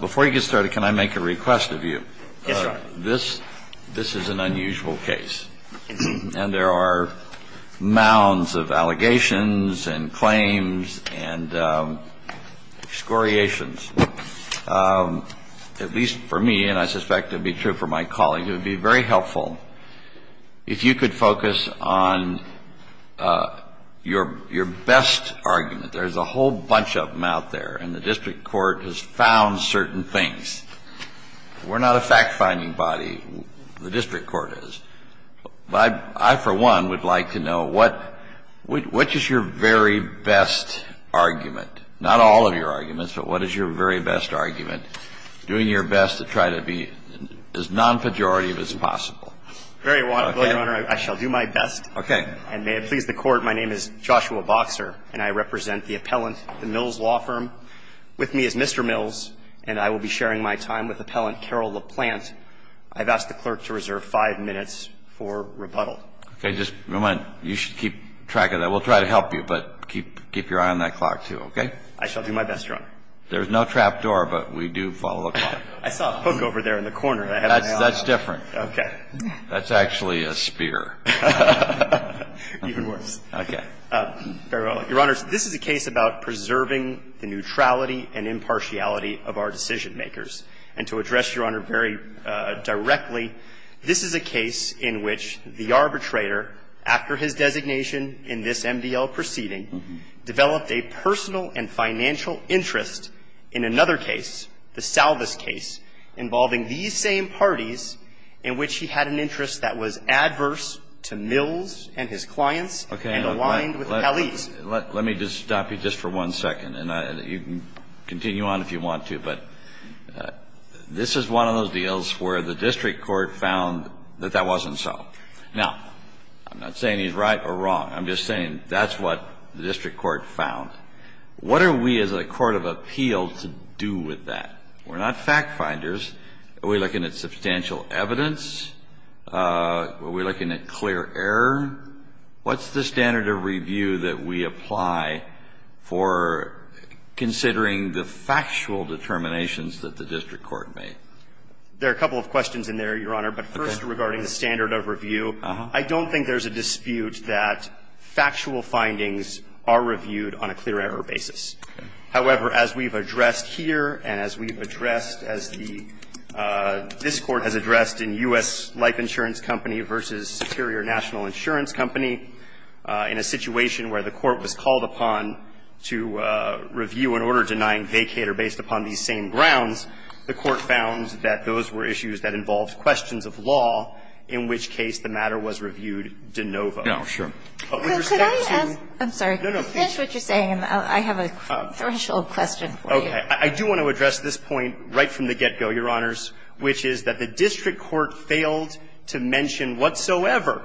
Before you get started, can I make a request of you? Yes, Your Honor. This is an unusual case, and there are mounds of allegations and claims and excoriations. At least for me, and I suspect it would be true for my colleagues, it would be very helpful if you could focus on your best argument. There's a whole bunch of them out there, and the district court has found certain things. We're not a fact-finding body. The district court is. I, for one, would like to know what – which is your very best argument? Not all of your arguments, but what is your very best argument, doing your best to try to be as non-pejorative as possible? Very well, Your Honor. I shall do my best. Okay. And may it please the Court, my name is Joshua Boxer, and I represent the appellant at the Mills Law Firm. With me is Mr. Mills, and I will be sharing my time with Appellant Carol LaPlante. I've asked the clerk to reserve five minutes for rebuttal. Okay. Just a moment. You should keep track of that. We'll try to help you, but keep your eye on that clock, too, okay? I shall do my best, Your Honor. There's no trapdoor, but we do follow the clock. I saw a hook over there in the corner that I had on my arm. That's different. Okay. That's actually a spear. Even worse. Okay. Very well, Your Honor, this is a case about preserving the neutrality and impartiality of our decision-makers. And to address, Your Honor, very directly, this is a case in which the arbitrator, after his designation in this MDL proceeding, developed a personal and financial interest in another case, the Salvas case, involving these same parties in which he had an interest that was adverse to Mills and his clients and aligned with the Pelley's. Let me just stop you just for one second, and you can continue on if you want to. But this is one of those deals where the district court found that that wasn't so. Now, I'm not saying he's right or wrong. I'm just saying that's what the district court found. What are we as a court of appeal to do with that? We're not fact-finders. Are we looking at substantial evidence? Are we looking at clear error? What's the standard of review that we apply for considering the factual determinations that the district court made? There are a couple of questions in there, Your Honor. But first, regarding the standard of review, I don't think there's a dispute that factual findings are reviewed on a clear error basis. However, as we've addressed here and as we've addressed as the this Court has addressed in U.S. Life Insurance Company v. Superior National Insurance Company, in a situation where the Court was called upon to review an order denying vacater based upon these same grounds, the Court found that those were issues that involved questions of law, in which case the matter was reviewed de novo. Roberts. Kagan. I'm sorry. No, no. Just what you're saying, and I have a threshold question for you. Okay. I do want to address this point right from the get-go, Your Honors, which is that the district court failed to mention whatsoever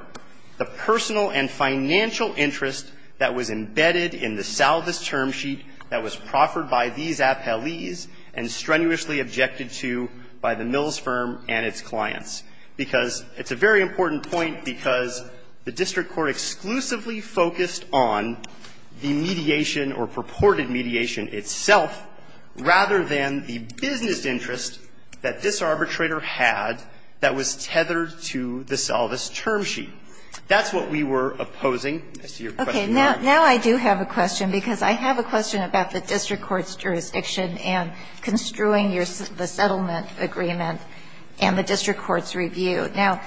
the personal and financial interest that was embedded in the salvus term sheet that was proffered by these appelees and strenuously objected to by the Mills firm and its clients. Because it's a very important point, because the district court exclusively focused on the mediation or purported mediation itself, rather than the business interest that this arbitrator had that was tethered to the salvus term sheet. That's what we were opposing as to your question, Your Honor. Okay. Now I do have a question, because I have a question about the district court's jurisdiction and construing the settlement agreement and the district court's review. Now,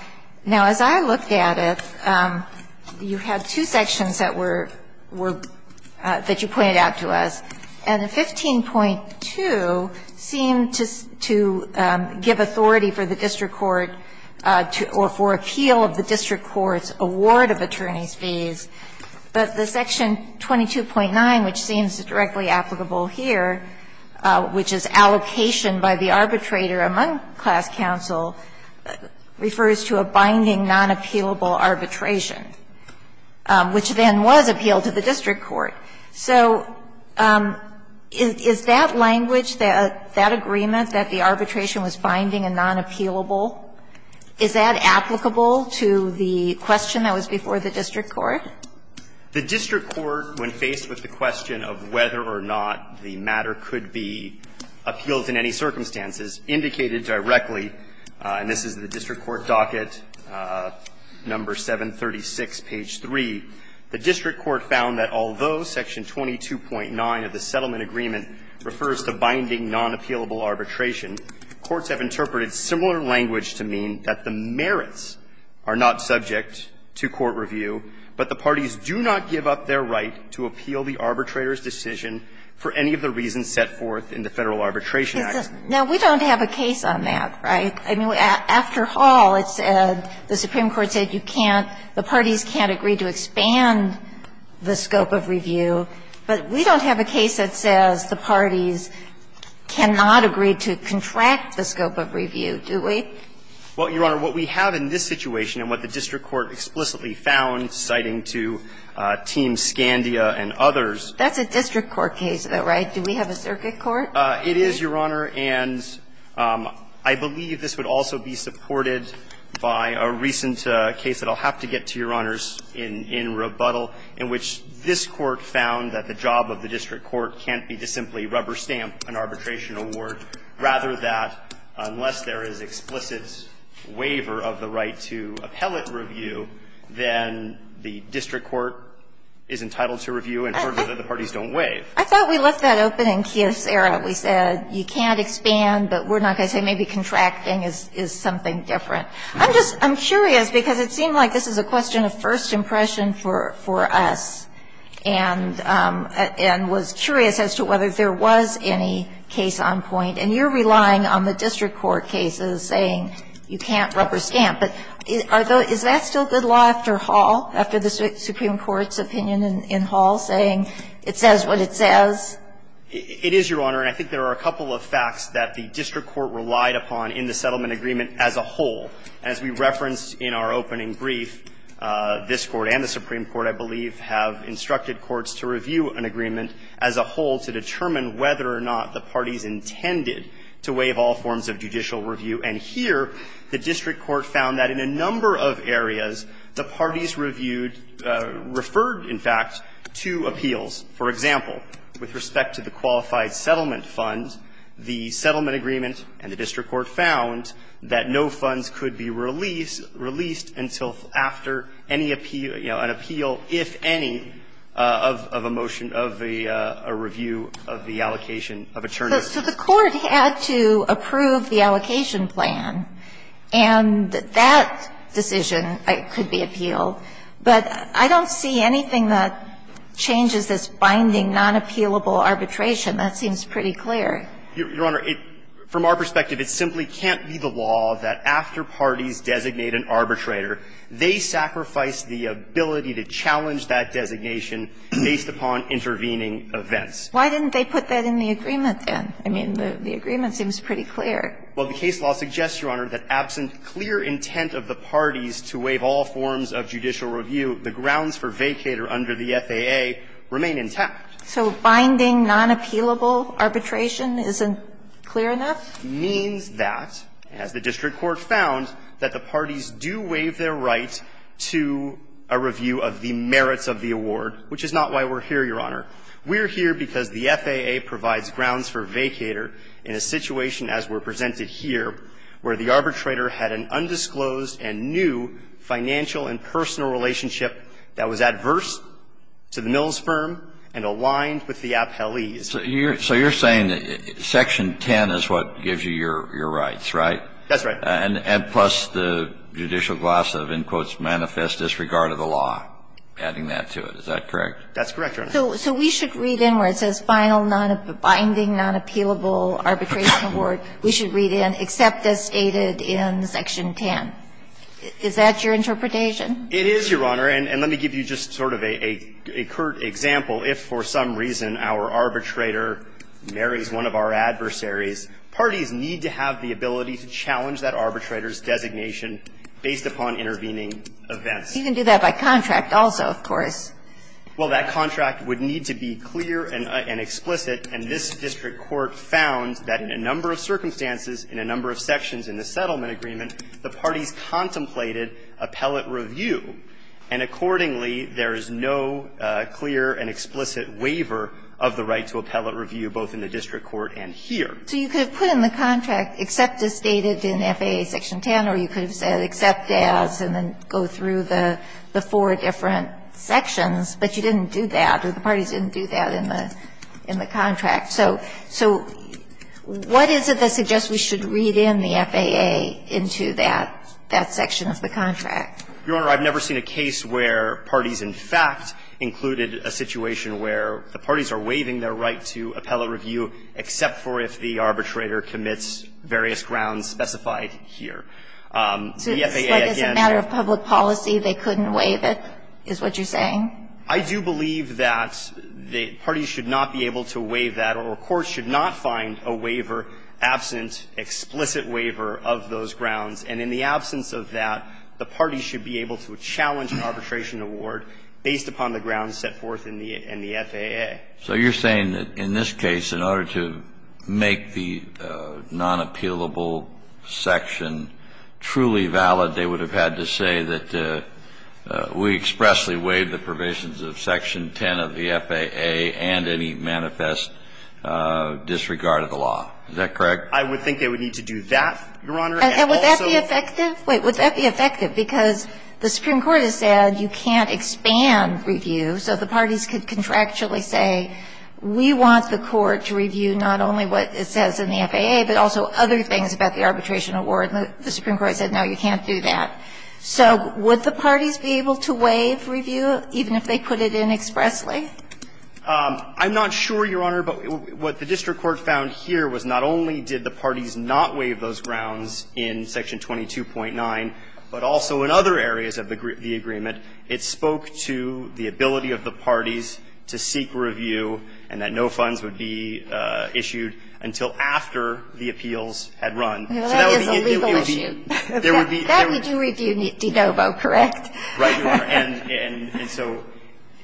as I looked at it, you had two sections that were — that you pointed out to us. And the 15.2 seemed to give authority for the district court to — or for appeal of the district court's award of attorney's fees, but the section 22.9, which seems directly applicable here, which is allocation by the arbitrator among class counsel, refers to a binding, non-appealable arbitration, which then was appealed to the district court. So is that language, that agreement that the arbitration was binding and non-appealable, is that applicable to the question that was before the district court? The district court, when faced with the question of whether or not the matter could be appealed in any circumstances, indicated directly, and this is the district court docket, number 736, page 3, the district court found that although section 22.9 of the settlement agreement refers to binding, non-appealable arbitration, courts have interpreted similar language to mean that the merits are not subject to court review, but the parties do not give up their right to appeal the arbitrator's decision for any of the reasons set forth in the Federal Arbitration Act. Now, we don't have a case on that, right? I mean, after Hall, it said, the Supreme Court said you can't — the parties can't agree to expand the scope of review, but we don't have a case that says the parties cannot agree to contract the scope of review, do we? Well, Your Honor, what we have in this situation and what the district court explicitly found, citing to Team Scandia and others — That's a district court case, though, right? Do we have a circuit court? It is, Your Honor, and I believe this would also be supported by a recent case that I'll have to get to, Your Honors, in rebuttal, in which this court found that the job of the district court can't be to simply rubber stamp an arbitration award, rather than, unless there is explicit waiver of the right to appellate review, then the district court is entitled to review and further that the parties don't waive. I thought we left that open in Kiosera. We said you can't expand, but we're not going to say maybe contracting is something different. I'm just — I'm curious, because it seemed like this is a question of first impression for us, and was curious as to whether there was any case on point. And you're relying on the district court cases saying you can't rubber stamp. But is that still good law after Hall, after the Supreme Court's opinion in Hall, saying it says what it says? It is, Your Honor, and I think there are a couple of facts that the district court relied upon in the settlement agreement as a whole. As we referenced in our opening brief, this Court and the Supreme Court, I believe, have instructed courts to review an agreement as a whole to determine whether or not the parties intended to waive all forms of judicial review. And here, the district court found that in a number of areas, the parties reviewed — referred, in fact, to appeals. For example, with respect to the Qualified Settlement Fund, the settlement agreement and the district court found that no funds could be released until after any appeal — you know, an appeal, if any, of a motion of a review of the allocation of attorneys. So the court had to approve the allocation plan, and that decision could be appealed. But I don't see anything that changes this binding, non-appealable arbitration. That seems pretty clear. Your Honor, from our perspective, it simply can't be the law that after parties designate an arbitrator, they sacrifice the ability to challenge that designation based upon intervening events. Why didn't they put that in the agreement, then? I mean, the agreement seems pretty clear. Well, the case law suggests, Your Honor, that absent clear intent of the parties to waive all forms of judicial review, the grounds for vacater under the FAA remain intact. So binding, non-appealable arbitration isn't clear enough? It means that, as the district court found, that the parties do waive their right to a review of the merits of the award, which is not why we're here, Your Honor. We're here because the FAA provides grounds for vacater in a situation, as were presented here, where the arbitrator had an undisclosed and new financial and personal relationship that was adverse to the Mills firm and aligned with the appellees. So you're saying that Section 10 is what gives you your rights, right? That's right. And plus the judicial gloss of, in quotes, manifest disregard of the law, adding that to it. Is that correct? That's correct, Your Honor. So we should read in where it says, final, non-binding, non-appealable arbitration award, we should read in, except as stated in Section 10. Is that your interpretation? It is, Your Honor. And let me give you just sort of a curt example. If for some reason our arbitrator marries one of our adversaries, parties need to have the ability to challenge that arbitrator's designation based upon intervening events. You can do that by contract also, of course. Well, that contract would need to be clear and explicit, and this district court found that in a number of circumstances, in a number of sections in the settlement agreement, the parties contemplated appellate review, and accordingly, there is no clear and explicit waiver of the right to appellate review, both in the district court and here. So you could have put in the contract, except as stated in FAA Section 10, or you could have put in the contract, but you didn't do that, or the parties didn't do that in the contract. So what is it that suggests we should read in the FAA into that section of the contract? Your Honor, I've never seen a case where parties in fact included a situation where the parties are waiving their right to appellate review, except for if the The FAA, again ---- It's a matter of public policy, they couldn't waive it, is what you're saying? I do believe that the parties should not be able to waive that, or courts should not find a waiver absent, explicit waiver of those grounds. And in the absence of that, the parties should be able to challenge an arbitration award based upon the grounds set forth in the FAA. So you're saying that in this case, in order to make the nonappealable section truly valid, they would have had to say that we expressly waived the provisions of Section 10 of the FAA and any manifest disregard of the law. Is that correct? I would think they would need to do that, Your Honor, and also ---- And would that be effective? Wait. Would that be effective? Because the Supreme Court has said you can't expand review, so the parties could contractually say, we want the court to review not only what it says in the FAA, but also other things about the arbitration award. The Supreme Court said, no, you can't do that. So would the parties be able to waive review, even if they put it in expressly? I'm not sure, Your Honor, but what the district court found here was not only did the parties not waive those grounds in Section 22.9, but also in other areas of the agreement, it spoke to the ability of the parties to seek review and that no funds would be issued until after the appeals had run. So that would be a legal issue. That we do review de novo, correct? Right, Your Honor. And so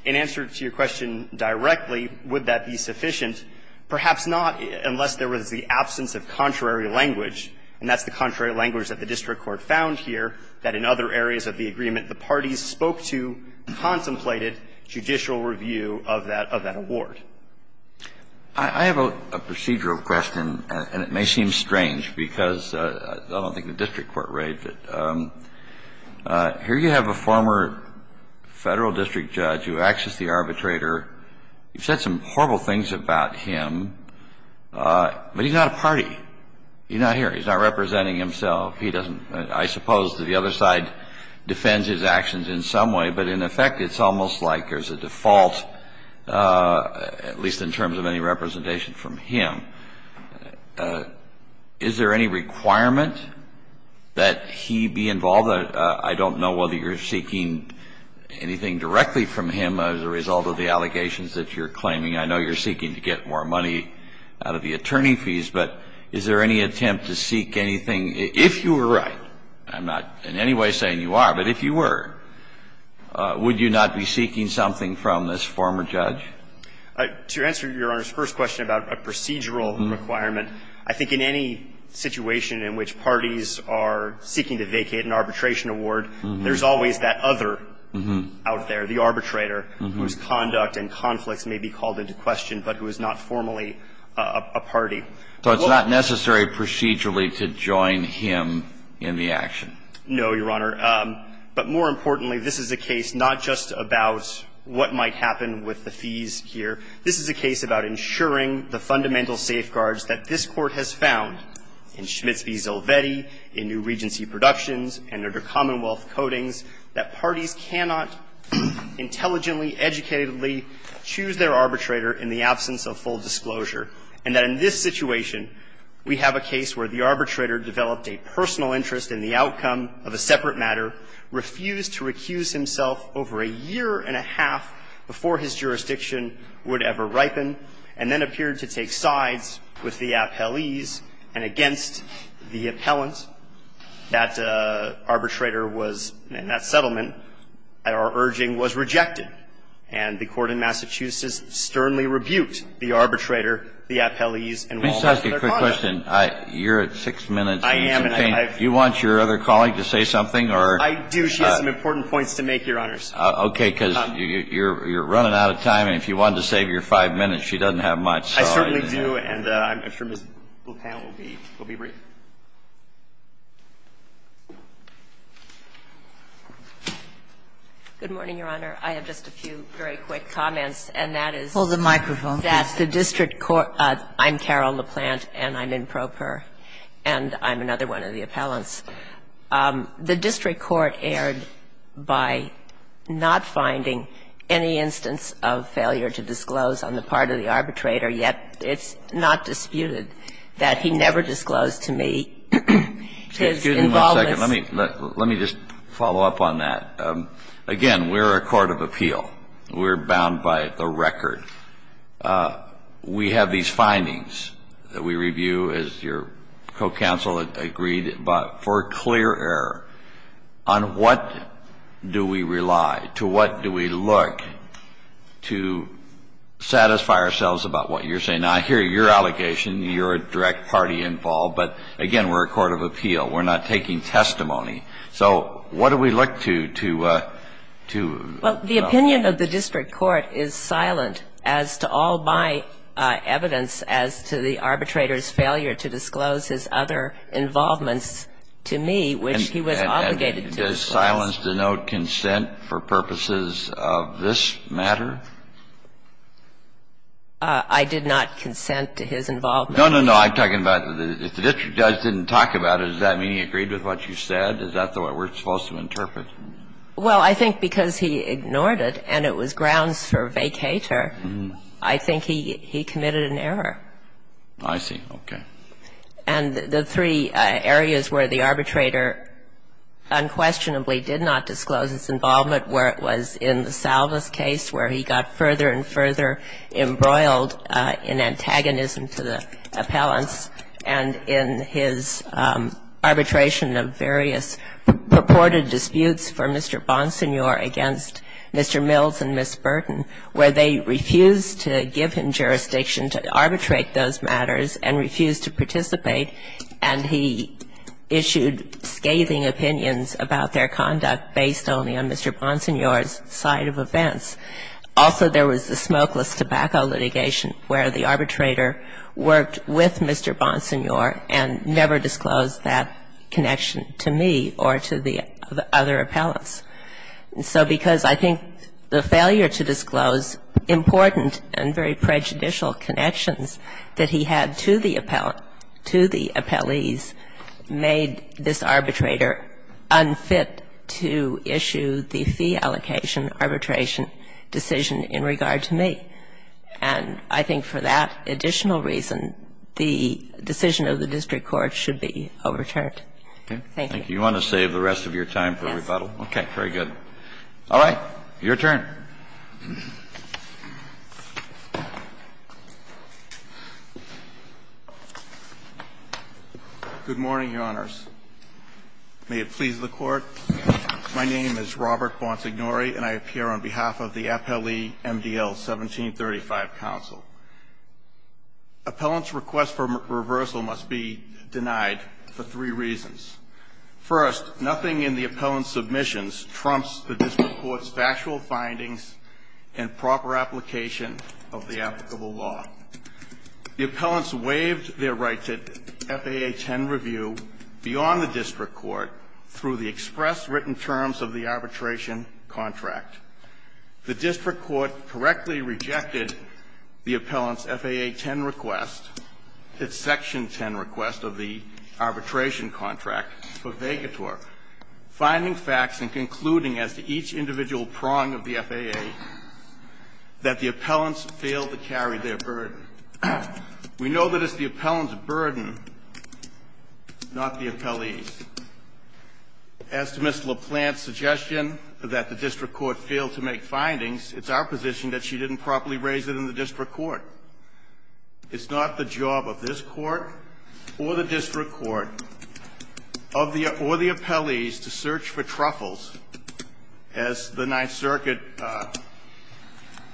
in answer to your question directly, would that be sufficient? Perhaps not, unless there was the absence of contrary language, and that's the contrary language that the district court found here, that in other areas of the agreement the parties spoke to contemplated judicial review of that award. I have a procedural question, and it may seem strange, because I don't think the district court raised it. Here you have a former Federal district judge who acts as the arbitrator. You've said some horrible things about him, but he's not a party. He's not here. He's not representing himself. He doesn't – I suppose that the other side defends his actions in some way, but in effect, it's almost like there's a default, at least in terms of any representation from him. Is there any requirement that he be involved? I don't know whether you're seeking anything directly from him as a result of the allegations that you're claiming. I know you're seeking to get more money out of the attorney fees, but is there any attempt to seek anything, if you were right? I'm not in any way saying you are, but if you were. Would you not be seeking something from this former judge? To answer Your Honor's first question about a procedural requirement, I think in any situation in which parties are seeking to vacate an arbitration award, there's always that other out there, the arbitrator, whose conduct and conflicts may be called into question, but who is not formally a party. So it's not necessary procedurally to join him in the action? No, Your Honor. But more importantly, this is a case not just about what might happen with the fees here. This is a case about ensuring the fundamental safeguards that this Court has found in Schmitz v. Zelvetti, in New Regency Productions, and under Commonwealth codings, that parties cannot intelligently, educatedly choose their arbitrator in the absence of full disclosure, and that in this situation, we have a case where the arbitrator developed a personal interest in the outcome of a separate matter, refused to recuse himself over a year and a half before his jurisdiction would ever ripen, and then appeared to take sides with the appellees, and against the appellant, that arbitrator was in that settlement, and our urging was rejected. And the Court in Massachusetts sternly rebuked the arbitrator, the appellees, and all of their conduct. Let me just ask you a quick question. You're at 6 minutes, and do you want your other colleague to say something or? I do. She has some important points to make, Your Honor. Okay. Because you're running out of time, and if you wanted to save your 5 minutes, she doesn't have much. I certainly do, and I'm sure Ms. Blupan will be brief. Good morning, Your Honor. I have just a few very quick comments, and that is that the district court – I'm Carol LaPlante, and I'm in PROPER, and I'm another one of the appellants. The district court erred by not finding any instance of failure to disclose on the part of the arbitrator, yet it's not disputed that he never disclosed to me his involvement. Excuse me one second. Let me just follow up on that. Again, we're a court of appeal. We're bound by the record. We have these findings that we review, as your co-counsel agreed, but for clear error on what do we rely, to what do we look to satisfy ourselves about what you're saying. Now, I hear your allegation, you're a direct party involved, but, again, we're a court of appeal. We're not taking testimony, so what do we look to, to, you know? Well, the opinion of the district court is silent as to all my evidence as to the arbitrator's failure to disclose his other involvements to me, which he was obligated to. And does silence denote consent for purposes of this matter? I did not consent to his involvement. No, no, no. I'm talking about if the district judge didn't talk about it, does that mean he agreed with what you said? Is that what we're supposed to interpret? Well, I think because he ignored it and it was grounds for vacator, I think he committed an error. I see. Okay. And the three areas where the arbitrator unquestionably did not disclose his involvement were it was in the Salvas case where he got further and further embroiled in antagonism to the appellants and in his arbitration of various purported disputes for Mr. Bonsignor against Mr. Mills and Ms. Burton where they refused to give him jurisdiction to arbitrate those matters and refused to participate, and he issued scathing opinions about their conduct based only on Mr. Bonsignor's side of events. Also, there was the smokeless tobacco litigation where the arbitrator worked with Mr. Bonsignor and never disclosed that connection to me or to the other appellants. So because I think the failure to disclose important and very prejudicial connections that he had to the appellant, to the appellees, made this arbitrator unfit to issue the fee allocation arbitration decision in regard to me. And I think for that additional reason, the decision of the district court should be overturned. Thank you. You want to save the rest of your time for rebuttal? Yes. Okay. Very good. Your turn. Good morning, Your Honors. May it please the Court. My name is Robert Bonsignori, and I appear on behalf of the Appellee MDL 1735 Council. Appellant's request for reversal must be denied for three reasons. First, nothing in the appellant's submissions trumps the district court's factual findings and proper application of the applicable law. The appellants waived their right to FAA 10 review beyond the district court through the express written terms of the arbitration contract. The district court correctly rejected the appellant's FAA 10 request, its Section 10 request of the arbitration contract for Vegator, finding facts and concluding as to each individual prong of the FAA that the appellants failed to carry their burden. We know that it's the appellant's burden, not the appellee's. As to Ms. LaPlante's suggestion that the district court failed to make findings, it's our position that she didn't properly raise it in the district court. It's not the job of this court or the district court or the appellee's to search for truffles, as the Ninth Circuit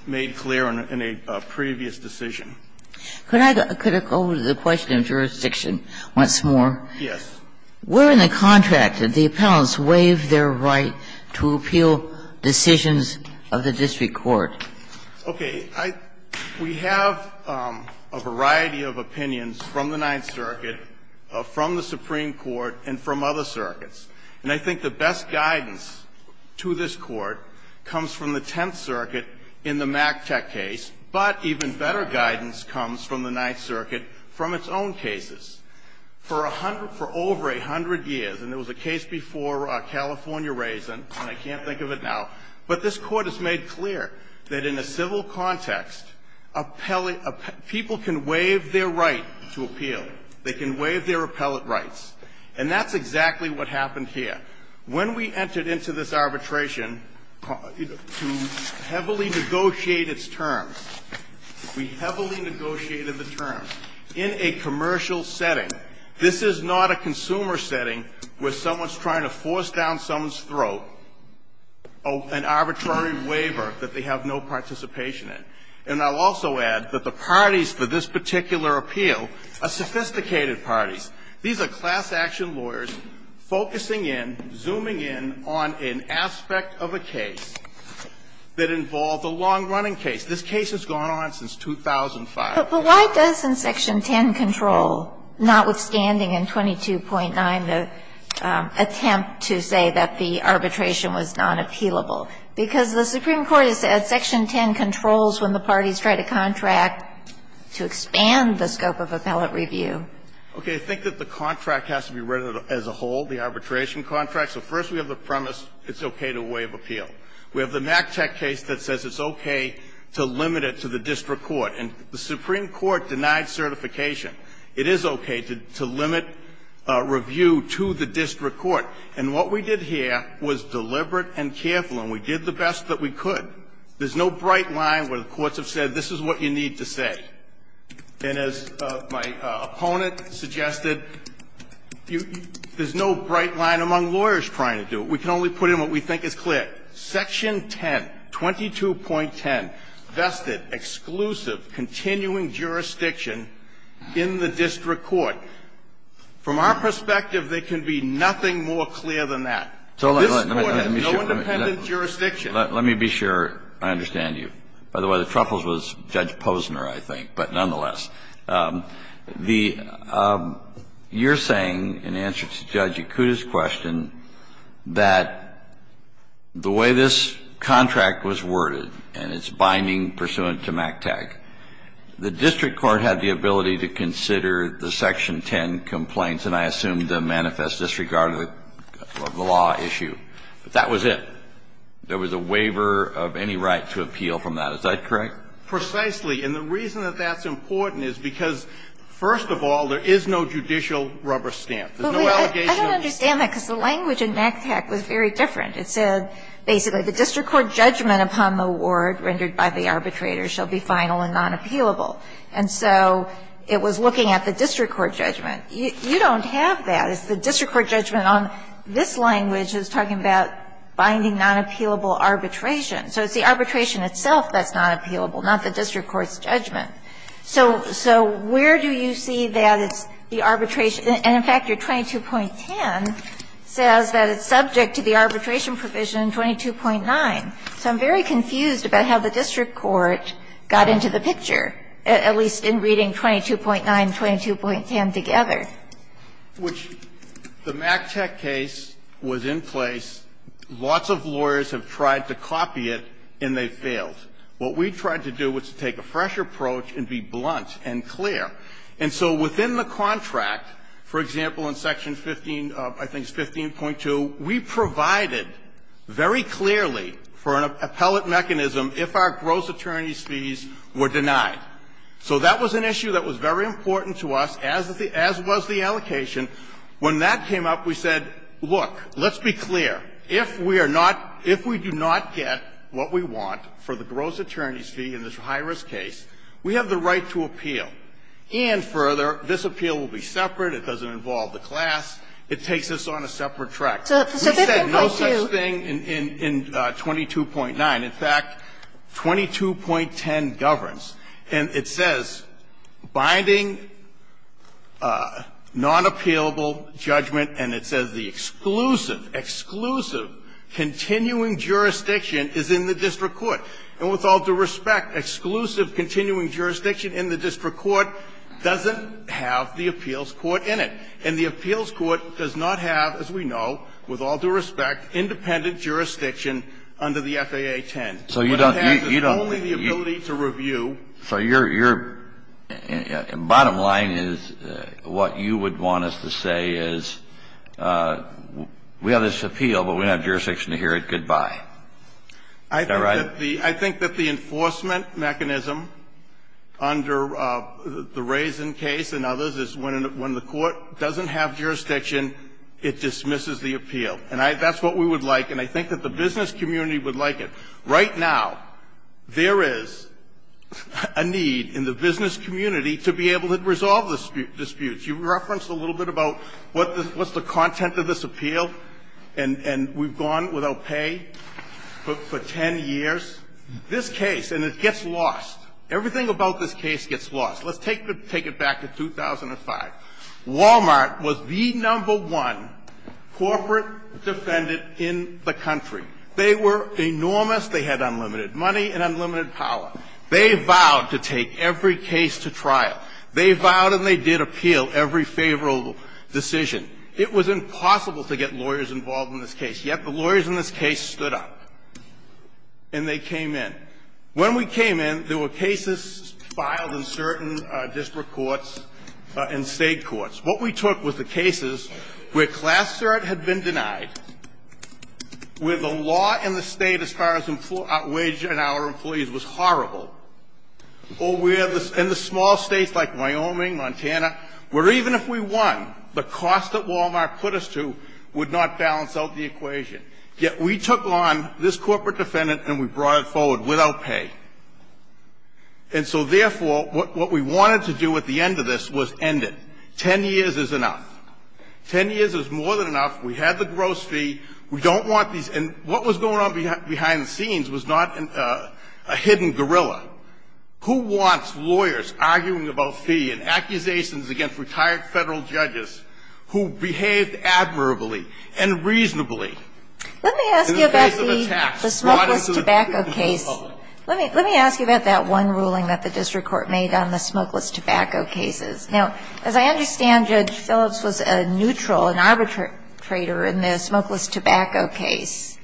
made clear in a previous decision. Could I go to the question of jurisdiction once more? Yes. Where in the contract did the appellants waive their right to appeal decisions of the district court? Okay. I we have a variety of opinions from the Ninth Circuit, from the Supreme Court, and from other circuits. And I think the best guidance to this court comes from the Tenth Circuit in the MacTech case, and the best guidance comes from the Ninth Circuit from its own cases. For over a hundred years, and there was a case before California Raisin, and I can't think of it now, but this Court has made clear that in a civil context, people can waive their right to appeal. They can waive their appellate rights. And that's exactly what happened here. When we entered into this arbitration to heavily negotiate its terms, we heavily negotiated the terms in a commercial setting. This is not a consumer setting where someone's trying to force down someone's throat an arbitrary waiver that they have no participation in. And I'll also add that the parties for this particular appeal are sophisticated parties. These are class-action lawyers focusing in, zooming in on an aspect of a case that involved a long-running case. This case has gone on since 2005. But why doesn't Section 10 control, notwithstanding in 22.9, the attempt to say that the arbitration was nonappealable? Because the Supreme Court has said Section 10 controls when the parties try to contract to expand the scope of appellate review. Okay. I think that the contract has to be read as a whole, the arbitration contract. So first we have the premise it's okay to waive appeal. We have the McTech case that says it's okay to limit it to the district court. And the Supreme Court denied certification. It is okay to limit review to the district court. And what we did here was deliberate and careful, and we did the best that we could. There's no bright line where the courts have said this is what you need to say. And as my opponent suggested, there's no bright line among lawyers trying to do it. We can only put in what we think is clear. And that is that Section 10, 22.10, vested exclusive continuing jurisdiction in the district court. From our perspective, there can be nothing more clear than that. This Court has no independent jurisdiction. Kennedy, let me be sure I understand you. By the way, the truffles was Judge Posner, I think, but nonetheless. You're saying, in answer to Judge Yakuta's question, that the way this contract was worded and its binding pursuant to McTech, the district court had the ability to consider the Section 10 complaints and I assume the manifest disregard of the law issue. That was it. There was a waiver of any right to appeal from that. Is that correct? Precisely. And the reason that that's important is because, first of all, there is no judicial rubber stamp. There's no allegation. I don't understand that because the language in McTech was very different. It said basically the district court judgment upon the award rendered by the arbitrator shall be final and non-appealable. And so it was looking at the district court judgment. You don't have that. The district court judgment on this language is talking about binding non-appealable arbitration. So it's the arbitration itself that's non-appealable, not the district court's judgment. So where do you see that it's the arbitration? And in fact, your 22.10 says that it's subject to the arbitration provision 22.9. So I'm very confused about how the district court got into the picture, at least in reading 22.9 and 22.10 together. Now, the McTech case was in place. Lots of lawyers have tried to copy it, and they failed. What we tried to do was to take a fresh approach and be blunt and clear. And so within the contract, for example, in Section 15, I think it's 15.2, we provided very clearly for an appellate mechanism if our gross attorney's fees were denied. So that was an issue that was very important to us, as was the allocation. When that came up, we said, look, let's be clear. If we are not – if we do not get what we want for the gross attorney's fee in this high-risk case, we have the right to appeal. And further, this appeal will be separate, it doesn't involve the class, it takes us on a separate track. We said no such thing in 22.9. In fact, 22.10 governs, and it says, binding non-appealable judgment, and it says the exclusive, exclusive continuing jurisdiction is in the district court. And with all due respect, exclusive continuing jurisdiction in the district court doesn't have the appeals court in it. And the appeals court does not have, as we know, with all due respect, independent jurisdiction under the FAA 10. Kennedy, you don't – you don't – But it has only the ability to review. So you're – your – bottom line is what you would want us to say is we have this appeal, but we don't have jurisdiction to hear it, goodbye. Is that right? I think that the – I think that the enforcement mechanism under the Raisin case and others is when the court doesn't have jurisdiction, it dismisses the appeal. And I – that's what we would like, and I think that the business community would like it. Right now, there is a need in the business community to be able to resolve the disputes. You referenced a little bit about what the – what's the content of this appeal, and we've gone without pay for 10 years. This case – and it gets lost. Everything about this case gets lost. Let's take the – take it back to 2005. Walmart was the number one corporate defendant in the country. They were enormous. They had unlimited money and unlimited power. They vowed to take every case to trial. They vowed and they did appeal every favorable decision. It was impossible to get lawyers involved in this case. Yet the lawyers in this case stood up, and they came in. When we came in, there were cases filed in certain district courts and state courts. What we took was the cases where class cert had been denied, where the law in the state as far as wage and hour employees was horrible, or where the – in the small states like Wyoming, Montana, where even if we won, the cost that Walmart put us to would not balance out the equation. Yet we took on this corporate defendant, and we brought it forward without pay. And so therefore, what we wanted to do at the end of this was end it. Ten years is enough. Ten years is more than enough. We had the gross fee. We don't want these – and what was going on behind the scenes was not a hidden gorilla. Who wants lawyers arguing about fee and accusations against retired federal judges who behaved admirably and reasonably in the face of attacks brought into the public? Let me ask you about that one ruling that the district court made on the smokeless tobacco cases. Now, as I understand, Judge Phillips was a neutral, an arbitrator in the smokeless tobacco case,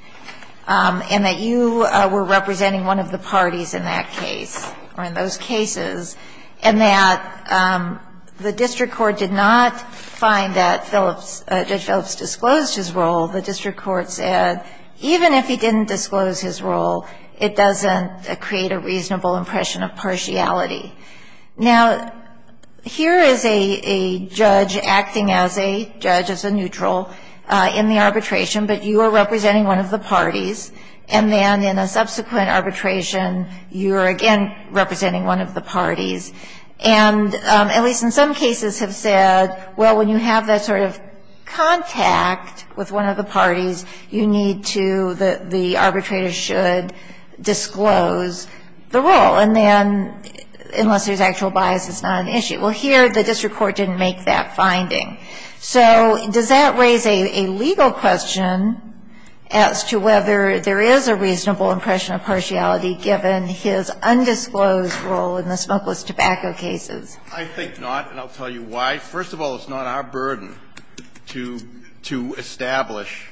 and that you were representing one of the parties in that case, or in those cases, and that the district court did not find that Phillips – Judge Phillips disclosed his role. The district court said even if he didn't disclose his role, it doesn't create a reasonable impression of partiality. Now, here is a judge acting as a judge, as a neutral, in the arbitration, but you are representing one of the parties, and then in a subsequent arbitration, you are again representing one of the parties. And at least in some cases have said, well, when you have that sort of contact with one of the parties, you need to – the arbitrator should disclose the role, and then – unless there's actual bias, it's not an issue. Well, here, the district court didn't make that finding. So does that raise a legal question as to whether there is a reasonable impression of partiality given his undisclosed role in the smokeless tobacco cases? I think not, and I'll tell you why. First of all, it's not our burden to establish.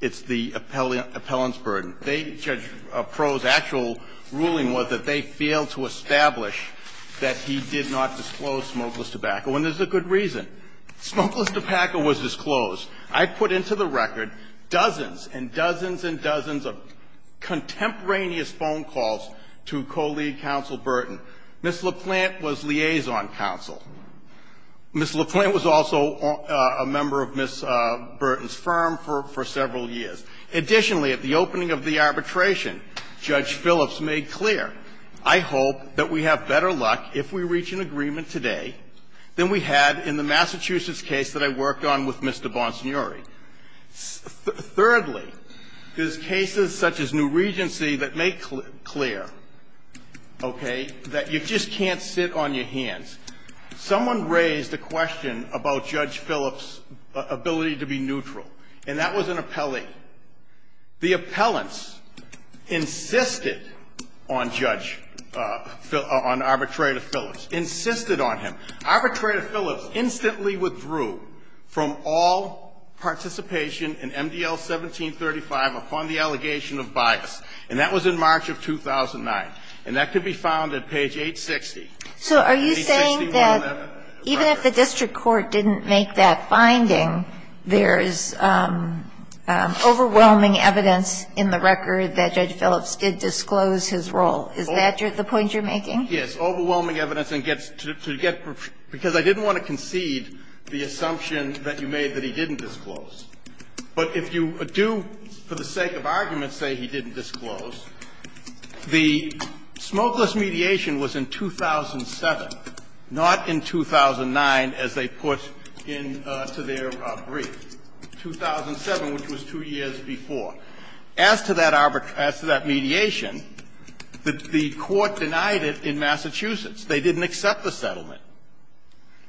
It's the appellant's burden. They – Judge Proulx's actual ruling was that they failed to establish that he did not disclose smokeless tobacco, and there's a good reason. Smokeless tobacco was disclosed. I put into the record dozens and dozens and dozens of contemporaneous phone calls to co-lead counsel Burton. Ms. LaPlante was liaison counsel. Ms. LaPlante was also a member of Ms. Burton's firm for several years. Additionally, at the opening of the arbitration, Judge Phillips made clear, I hope that we have better luck if we reach an agreement today than we had in the Massachusetts case that I worked on with Mr. Bonsignori. Thirdly, there's cases such as New Regency that make clear, okay, that you just can't sit on your hands. Someone raised a question about Judge Phillips' ability to be neutral, and that was an appellee. The appellants insisted on Judge – on Arbitrator Phillips, insisted on him. Arbitrator Phillips instantly withdrew from all participation in MDL 1735 upon the allegation of bias, and that was in March of 2009. And that could be found at page 860. So are you saying that even if the district court didn't make that finding, there's overwhelming evidence in the record that Judge Phillips did disclose his role? Is that the point you're making? Yes, overwhelming evidence, and to get – because I didn't want to concede the assumption that you made that he didn't disclose. But if you do, for the sake of argument, say he didn't disclose, the smokeless mediation was in 2007, not in 2009, as they put into their brief, 2007, which was two years before. And so as to that mediation, the court denied it in Massachusetts. They didn't accept the settlement.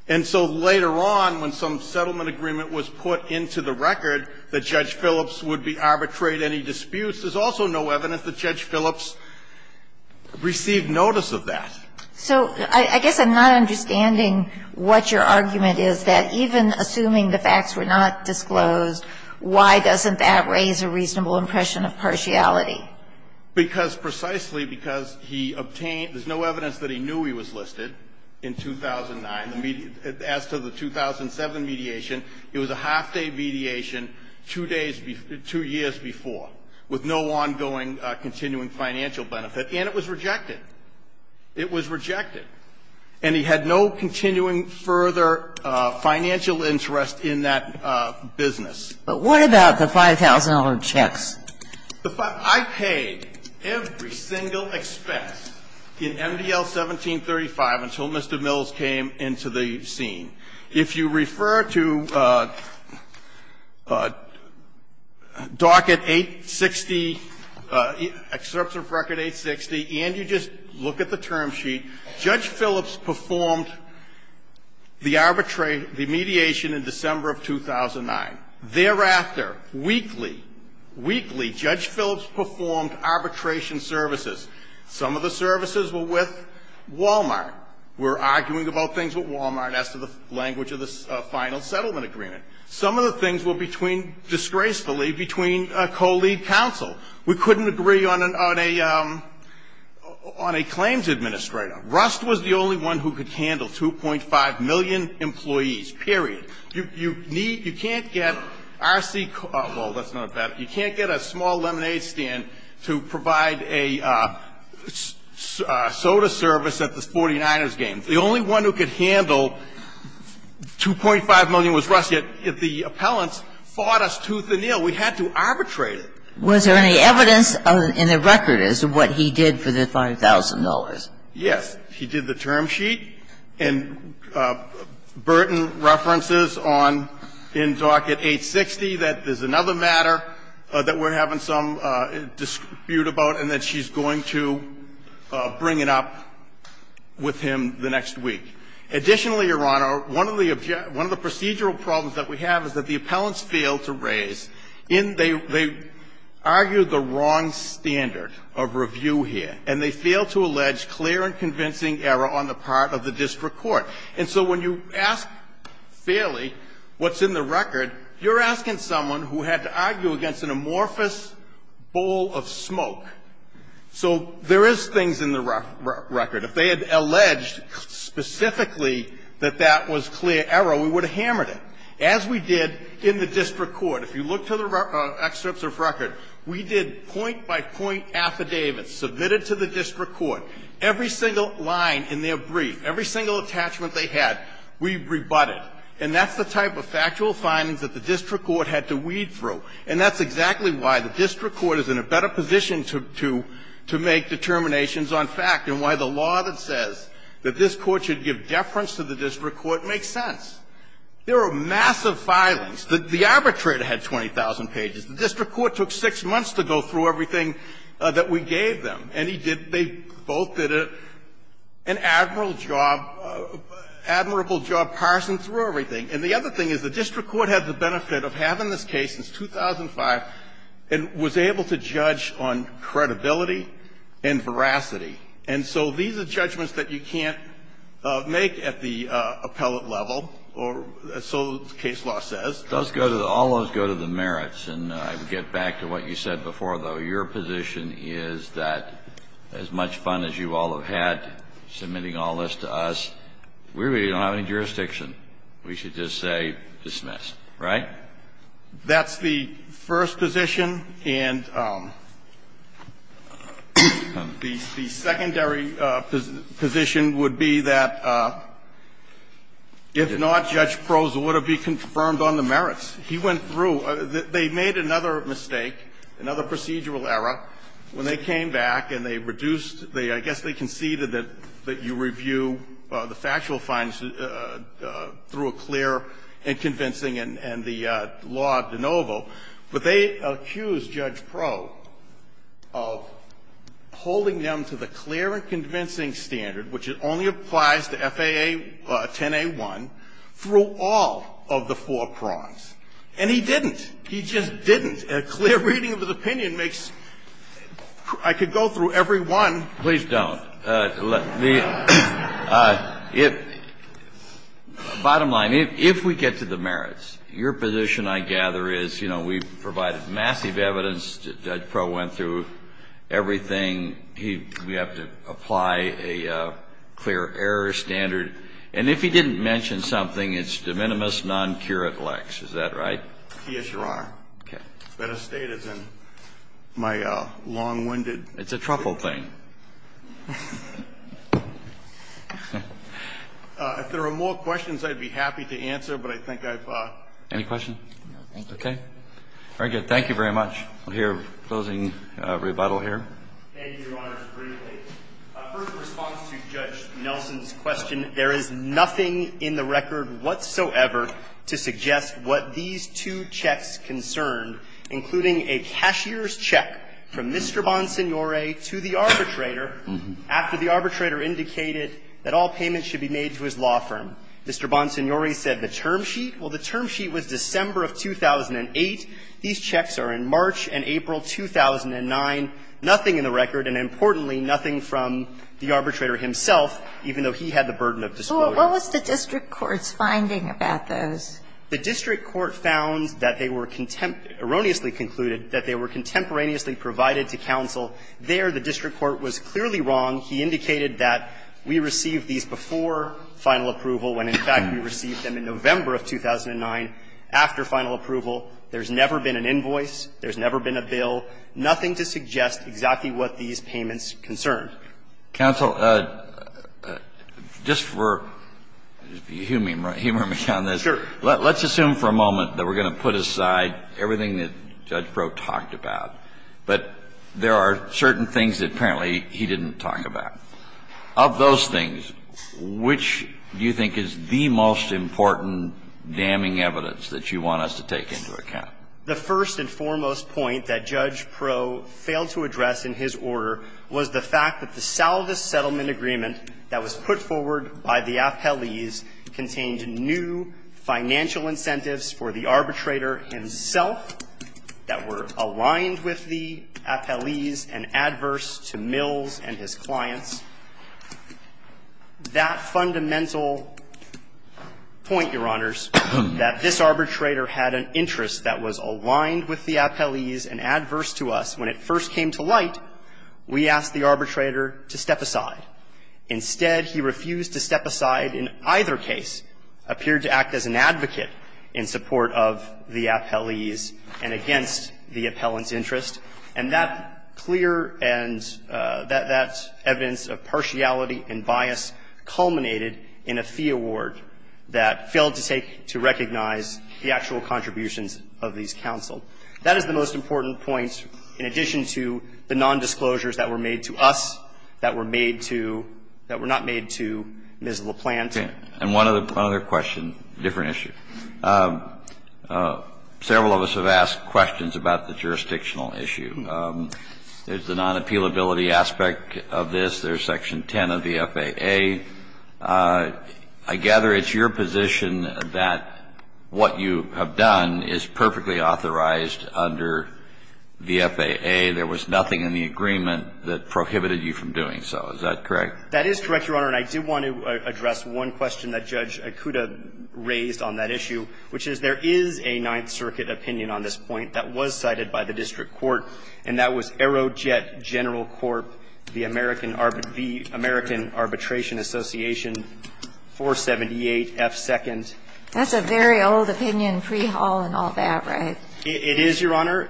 And so later on, when some settlement agreement was put into the record that Judge Phillips would arbitrate any disputes, there's also no evidence that Judge Phillips received notice of that. So I guess I'm not understanding what your argument is, that even assuming the facts were not disclosed, why doesn't that raise a reasonable impression of partiality? Because precisely because he obtained – there's no evidence that he knew he was listed in 2009. As to the 2007 mediation, it was a half-day mediation two days – two years before, with no ongoing continuing financial benefit, and it was rejected. It was rejected. And he had no continuing further financial interest in that business. But what about the $5,000 checks? The 5 – I paid every single expense in MDL 1735 until Mr. Mills came into the scene. If you refer to docket 860, excerpt of record 860, and you just look at the term sheet, Judge Phillips performed the arbitrate – the mediation in December of 2009. Thereafter, weekly, weekly, Judge Phillips performed arbitration services. Some of the services were with Wal-Mart. We're arguing about things with Wal-Mart as to the language of the final settlement agreement. Some of the things were between – disgracefully between co-lead counsel. We couldn't agree on a – on a claims administrator. Rust was the only one who could handle 2.5 million employees, period. You need – you can't get RC – well, that's not a bad – you can't get a small lemonade stand to provide a soda service at the 49ers games. The only one who could handle 2.5 million was Rust. Yet the appellants fought us tooth and nail. We had to arbitrate it. Was there any evidence in the record as to what he did for the $5,000? Yes. He did the term sheet, and Burton references on – in docket 860 that there's another matter that we're having some dispute about, and that she's going to bring it up with him the next week. Additionally, Your Honor, one of the – one of the procedural problems that we have is that the appellants failed to raise in – they – they argued the wrong standard of review here, and they failed to allege clear and convincing error on the part of the district court. And so when you ask fairly what's in the record, you're asking someone who had to argue against an amorphous bowl of smoke. So there is things in the record. If they had alleged specifically that that was clear error, we would have hammered it. As we did in the district court, if you look to the excerpts of record, we did point by point affidavits submitted to the district court. Every single line in their brief, every single attachment they had, we rebutted. And that's the type of factual findings that the district court had to weed through. And that's exactly why the district court is in a better position to – to make determinations on fact, and why the law that says that this court should give deference to the district court makes sense. There are massive filings. The arbitrator had 20,000 pages. The district court took 6 months to go through everything that we gave them. And he did – they both did an admirable job – admirable job parsing through everything. And the other thing is the district court had the benefit of having this case since 2005 and was able to judge on credibility and veracity. And so these are judgments that you can't make at the appellate level, or so the case law says. Kennedy. All those go to the merits. And I would get back to what you said before, though. Your position is that as much fun as you all have had submitting all this to us, we really don't have any jurisdiction. We should just say dismiss, right? That's the first position. And the secondary position would be that if not, Judge Proza would have been confirmed on the merits. He went through. They made another mistake, another procedural error, when they came back and they reduced the – I guess they conceded that you review the factual findings through a clear and convincing and the law de novo. But they accused Judge Proza of holding them to the clear and convincing standard, which only applies to FAA 10A1, through all of the four prongs. And he didn't. He just didn't. A clear reading of his opinion makes – I could go through every one. Please don't. The – bottom line, if we get to the merits, your position, I gather, is, you know, we've provided massive evidence that Judge Proza went through everything. He – we have to apply a clear error standard. And if he didn't mention something, it's de minimis non curat lex. Is that right? Yes, Your Honor. Okay. It's better stated than my long-winded – It's a truffle thing. If there are more questions, I'd be happy to answer, but I think I've – Any questions? No, thank you. Okay. Very good. Thank you very much. We'll hear a closing rebuttal here. Thank you, Your Honor. First, in response to Judge Nelson's question, there is nothing in the record whatsoever to suggest what these two checks concerned, including a cashier's check from Mr. Bonsignore to the arbitrator after the arbitrator indicated that all payments should be made to his law firm. Mr. Bonsignore said the term sheet. Well, the term sheet was December of 2008. These checks are in March and April 2009. Nothing in the record, and importantly, nothing from the arbitrator himself, even though he had the burden of disclosure. Well, what was the district court's finding about those? The district court found that they were – erroneously concluded that they were contemporaneously provided to counsel. There, the district court was clearly wrong. He indicated that we received these before final approval, when, in fact, we received them in November of 2009, after final approval. There's never been an invoice. There's never been a bill. Nothing to suggest exactly what these payments concerned. Counsel, just for humor me on this. Sure. Let's assume for a moment that we're going to put aside everything that Judge Prok talked about, but there are certain things that apparently he didn't talk about. Of those things, which do you think is the most important damning evidence that you want us to take into account? The first and foremost point that Judge Prok failed to address in his order was the fact that the salvage settlement agreement that was put forward by the appellees contained new financial incentives for the arbitrator himself that were aligned with the appellees and adverse to Mills and his clients. That fundamental point, Your Honors, that this arbitrator had an interest that was aligned with the appellees and adverse to us, when it first came to light, we asked the arbitrator to step aside. Instead, he refused to step aside in either case, appeared to act as an advocate in support of the appellees and against the appellant's interest. And that clear and that evidence of partiality and bias culminated in a fee award that failed to take to recognize the actual contributions of these counsel. That is the most important point in addition to the nondisclosures that were made to us, that were made to, that were not made to Ms. LaPlante. And one other question, different issue. Several of us have asked questions about the jurisdictional issue. There's the non-appealability aspect of this. There's section 10 of the FAA. I gather it's your position that what you have done is perfectly authorized under the FAA. There was nothing in the agreement that prohibited you from doing so. Is that correct? That is correct, Your Honor. And I do want to address one question that Judge Akuta raised on that issue, which is there is a Ninth Circuit opinion on this point that was cited by the district court, and that was Aerojet General Corp., the American Arbitration Association, 478 F. Second. That's a very old opinion, pre-Hall and all that, right? It is, Your Honor.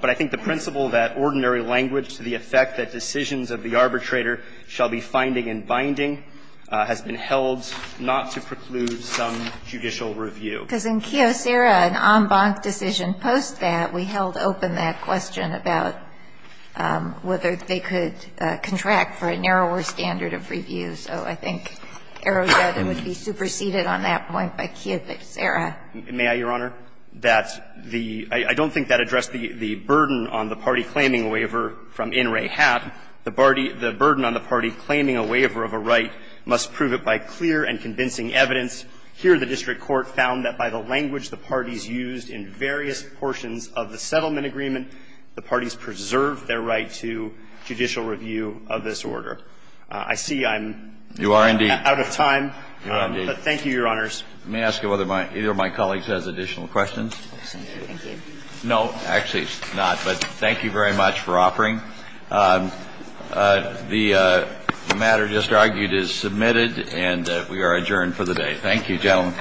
But I think the principle that ordinary language to the effect that decisions of the arbitrator shall be finding and binding has been held not to preclude some judicial review. Because in Kiyosera, an en banc decision post that, we held open that question about whether they could contract for a narrower standard of review. So I think Aerojet would be superseded on that point by Kiyosera. May I, Your Honor, that the – I don't think that addressed the burden on the party claiming a waiver from in re hap, the burden on the party claiming a waiver of a right must prove it by clear and convincing evidence. Here, the district court found that by the language the parties used in various portions of the settlement agreement, the parties preserved their right to judicial review of this order. I see I'm out of time. You are, indeed. Thank you, Your Honors. Let me ask you whether either of my colleagues has additional questions. No. Actually, not, but thank you very much for offering. The matter just argued is submitted, and we are adjourned for the day. Thank you, gentlemen.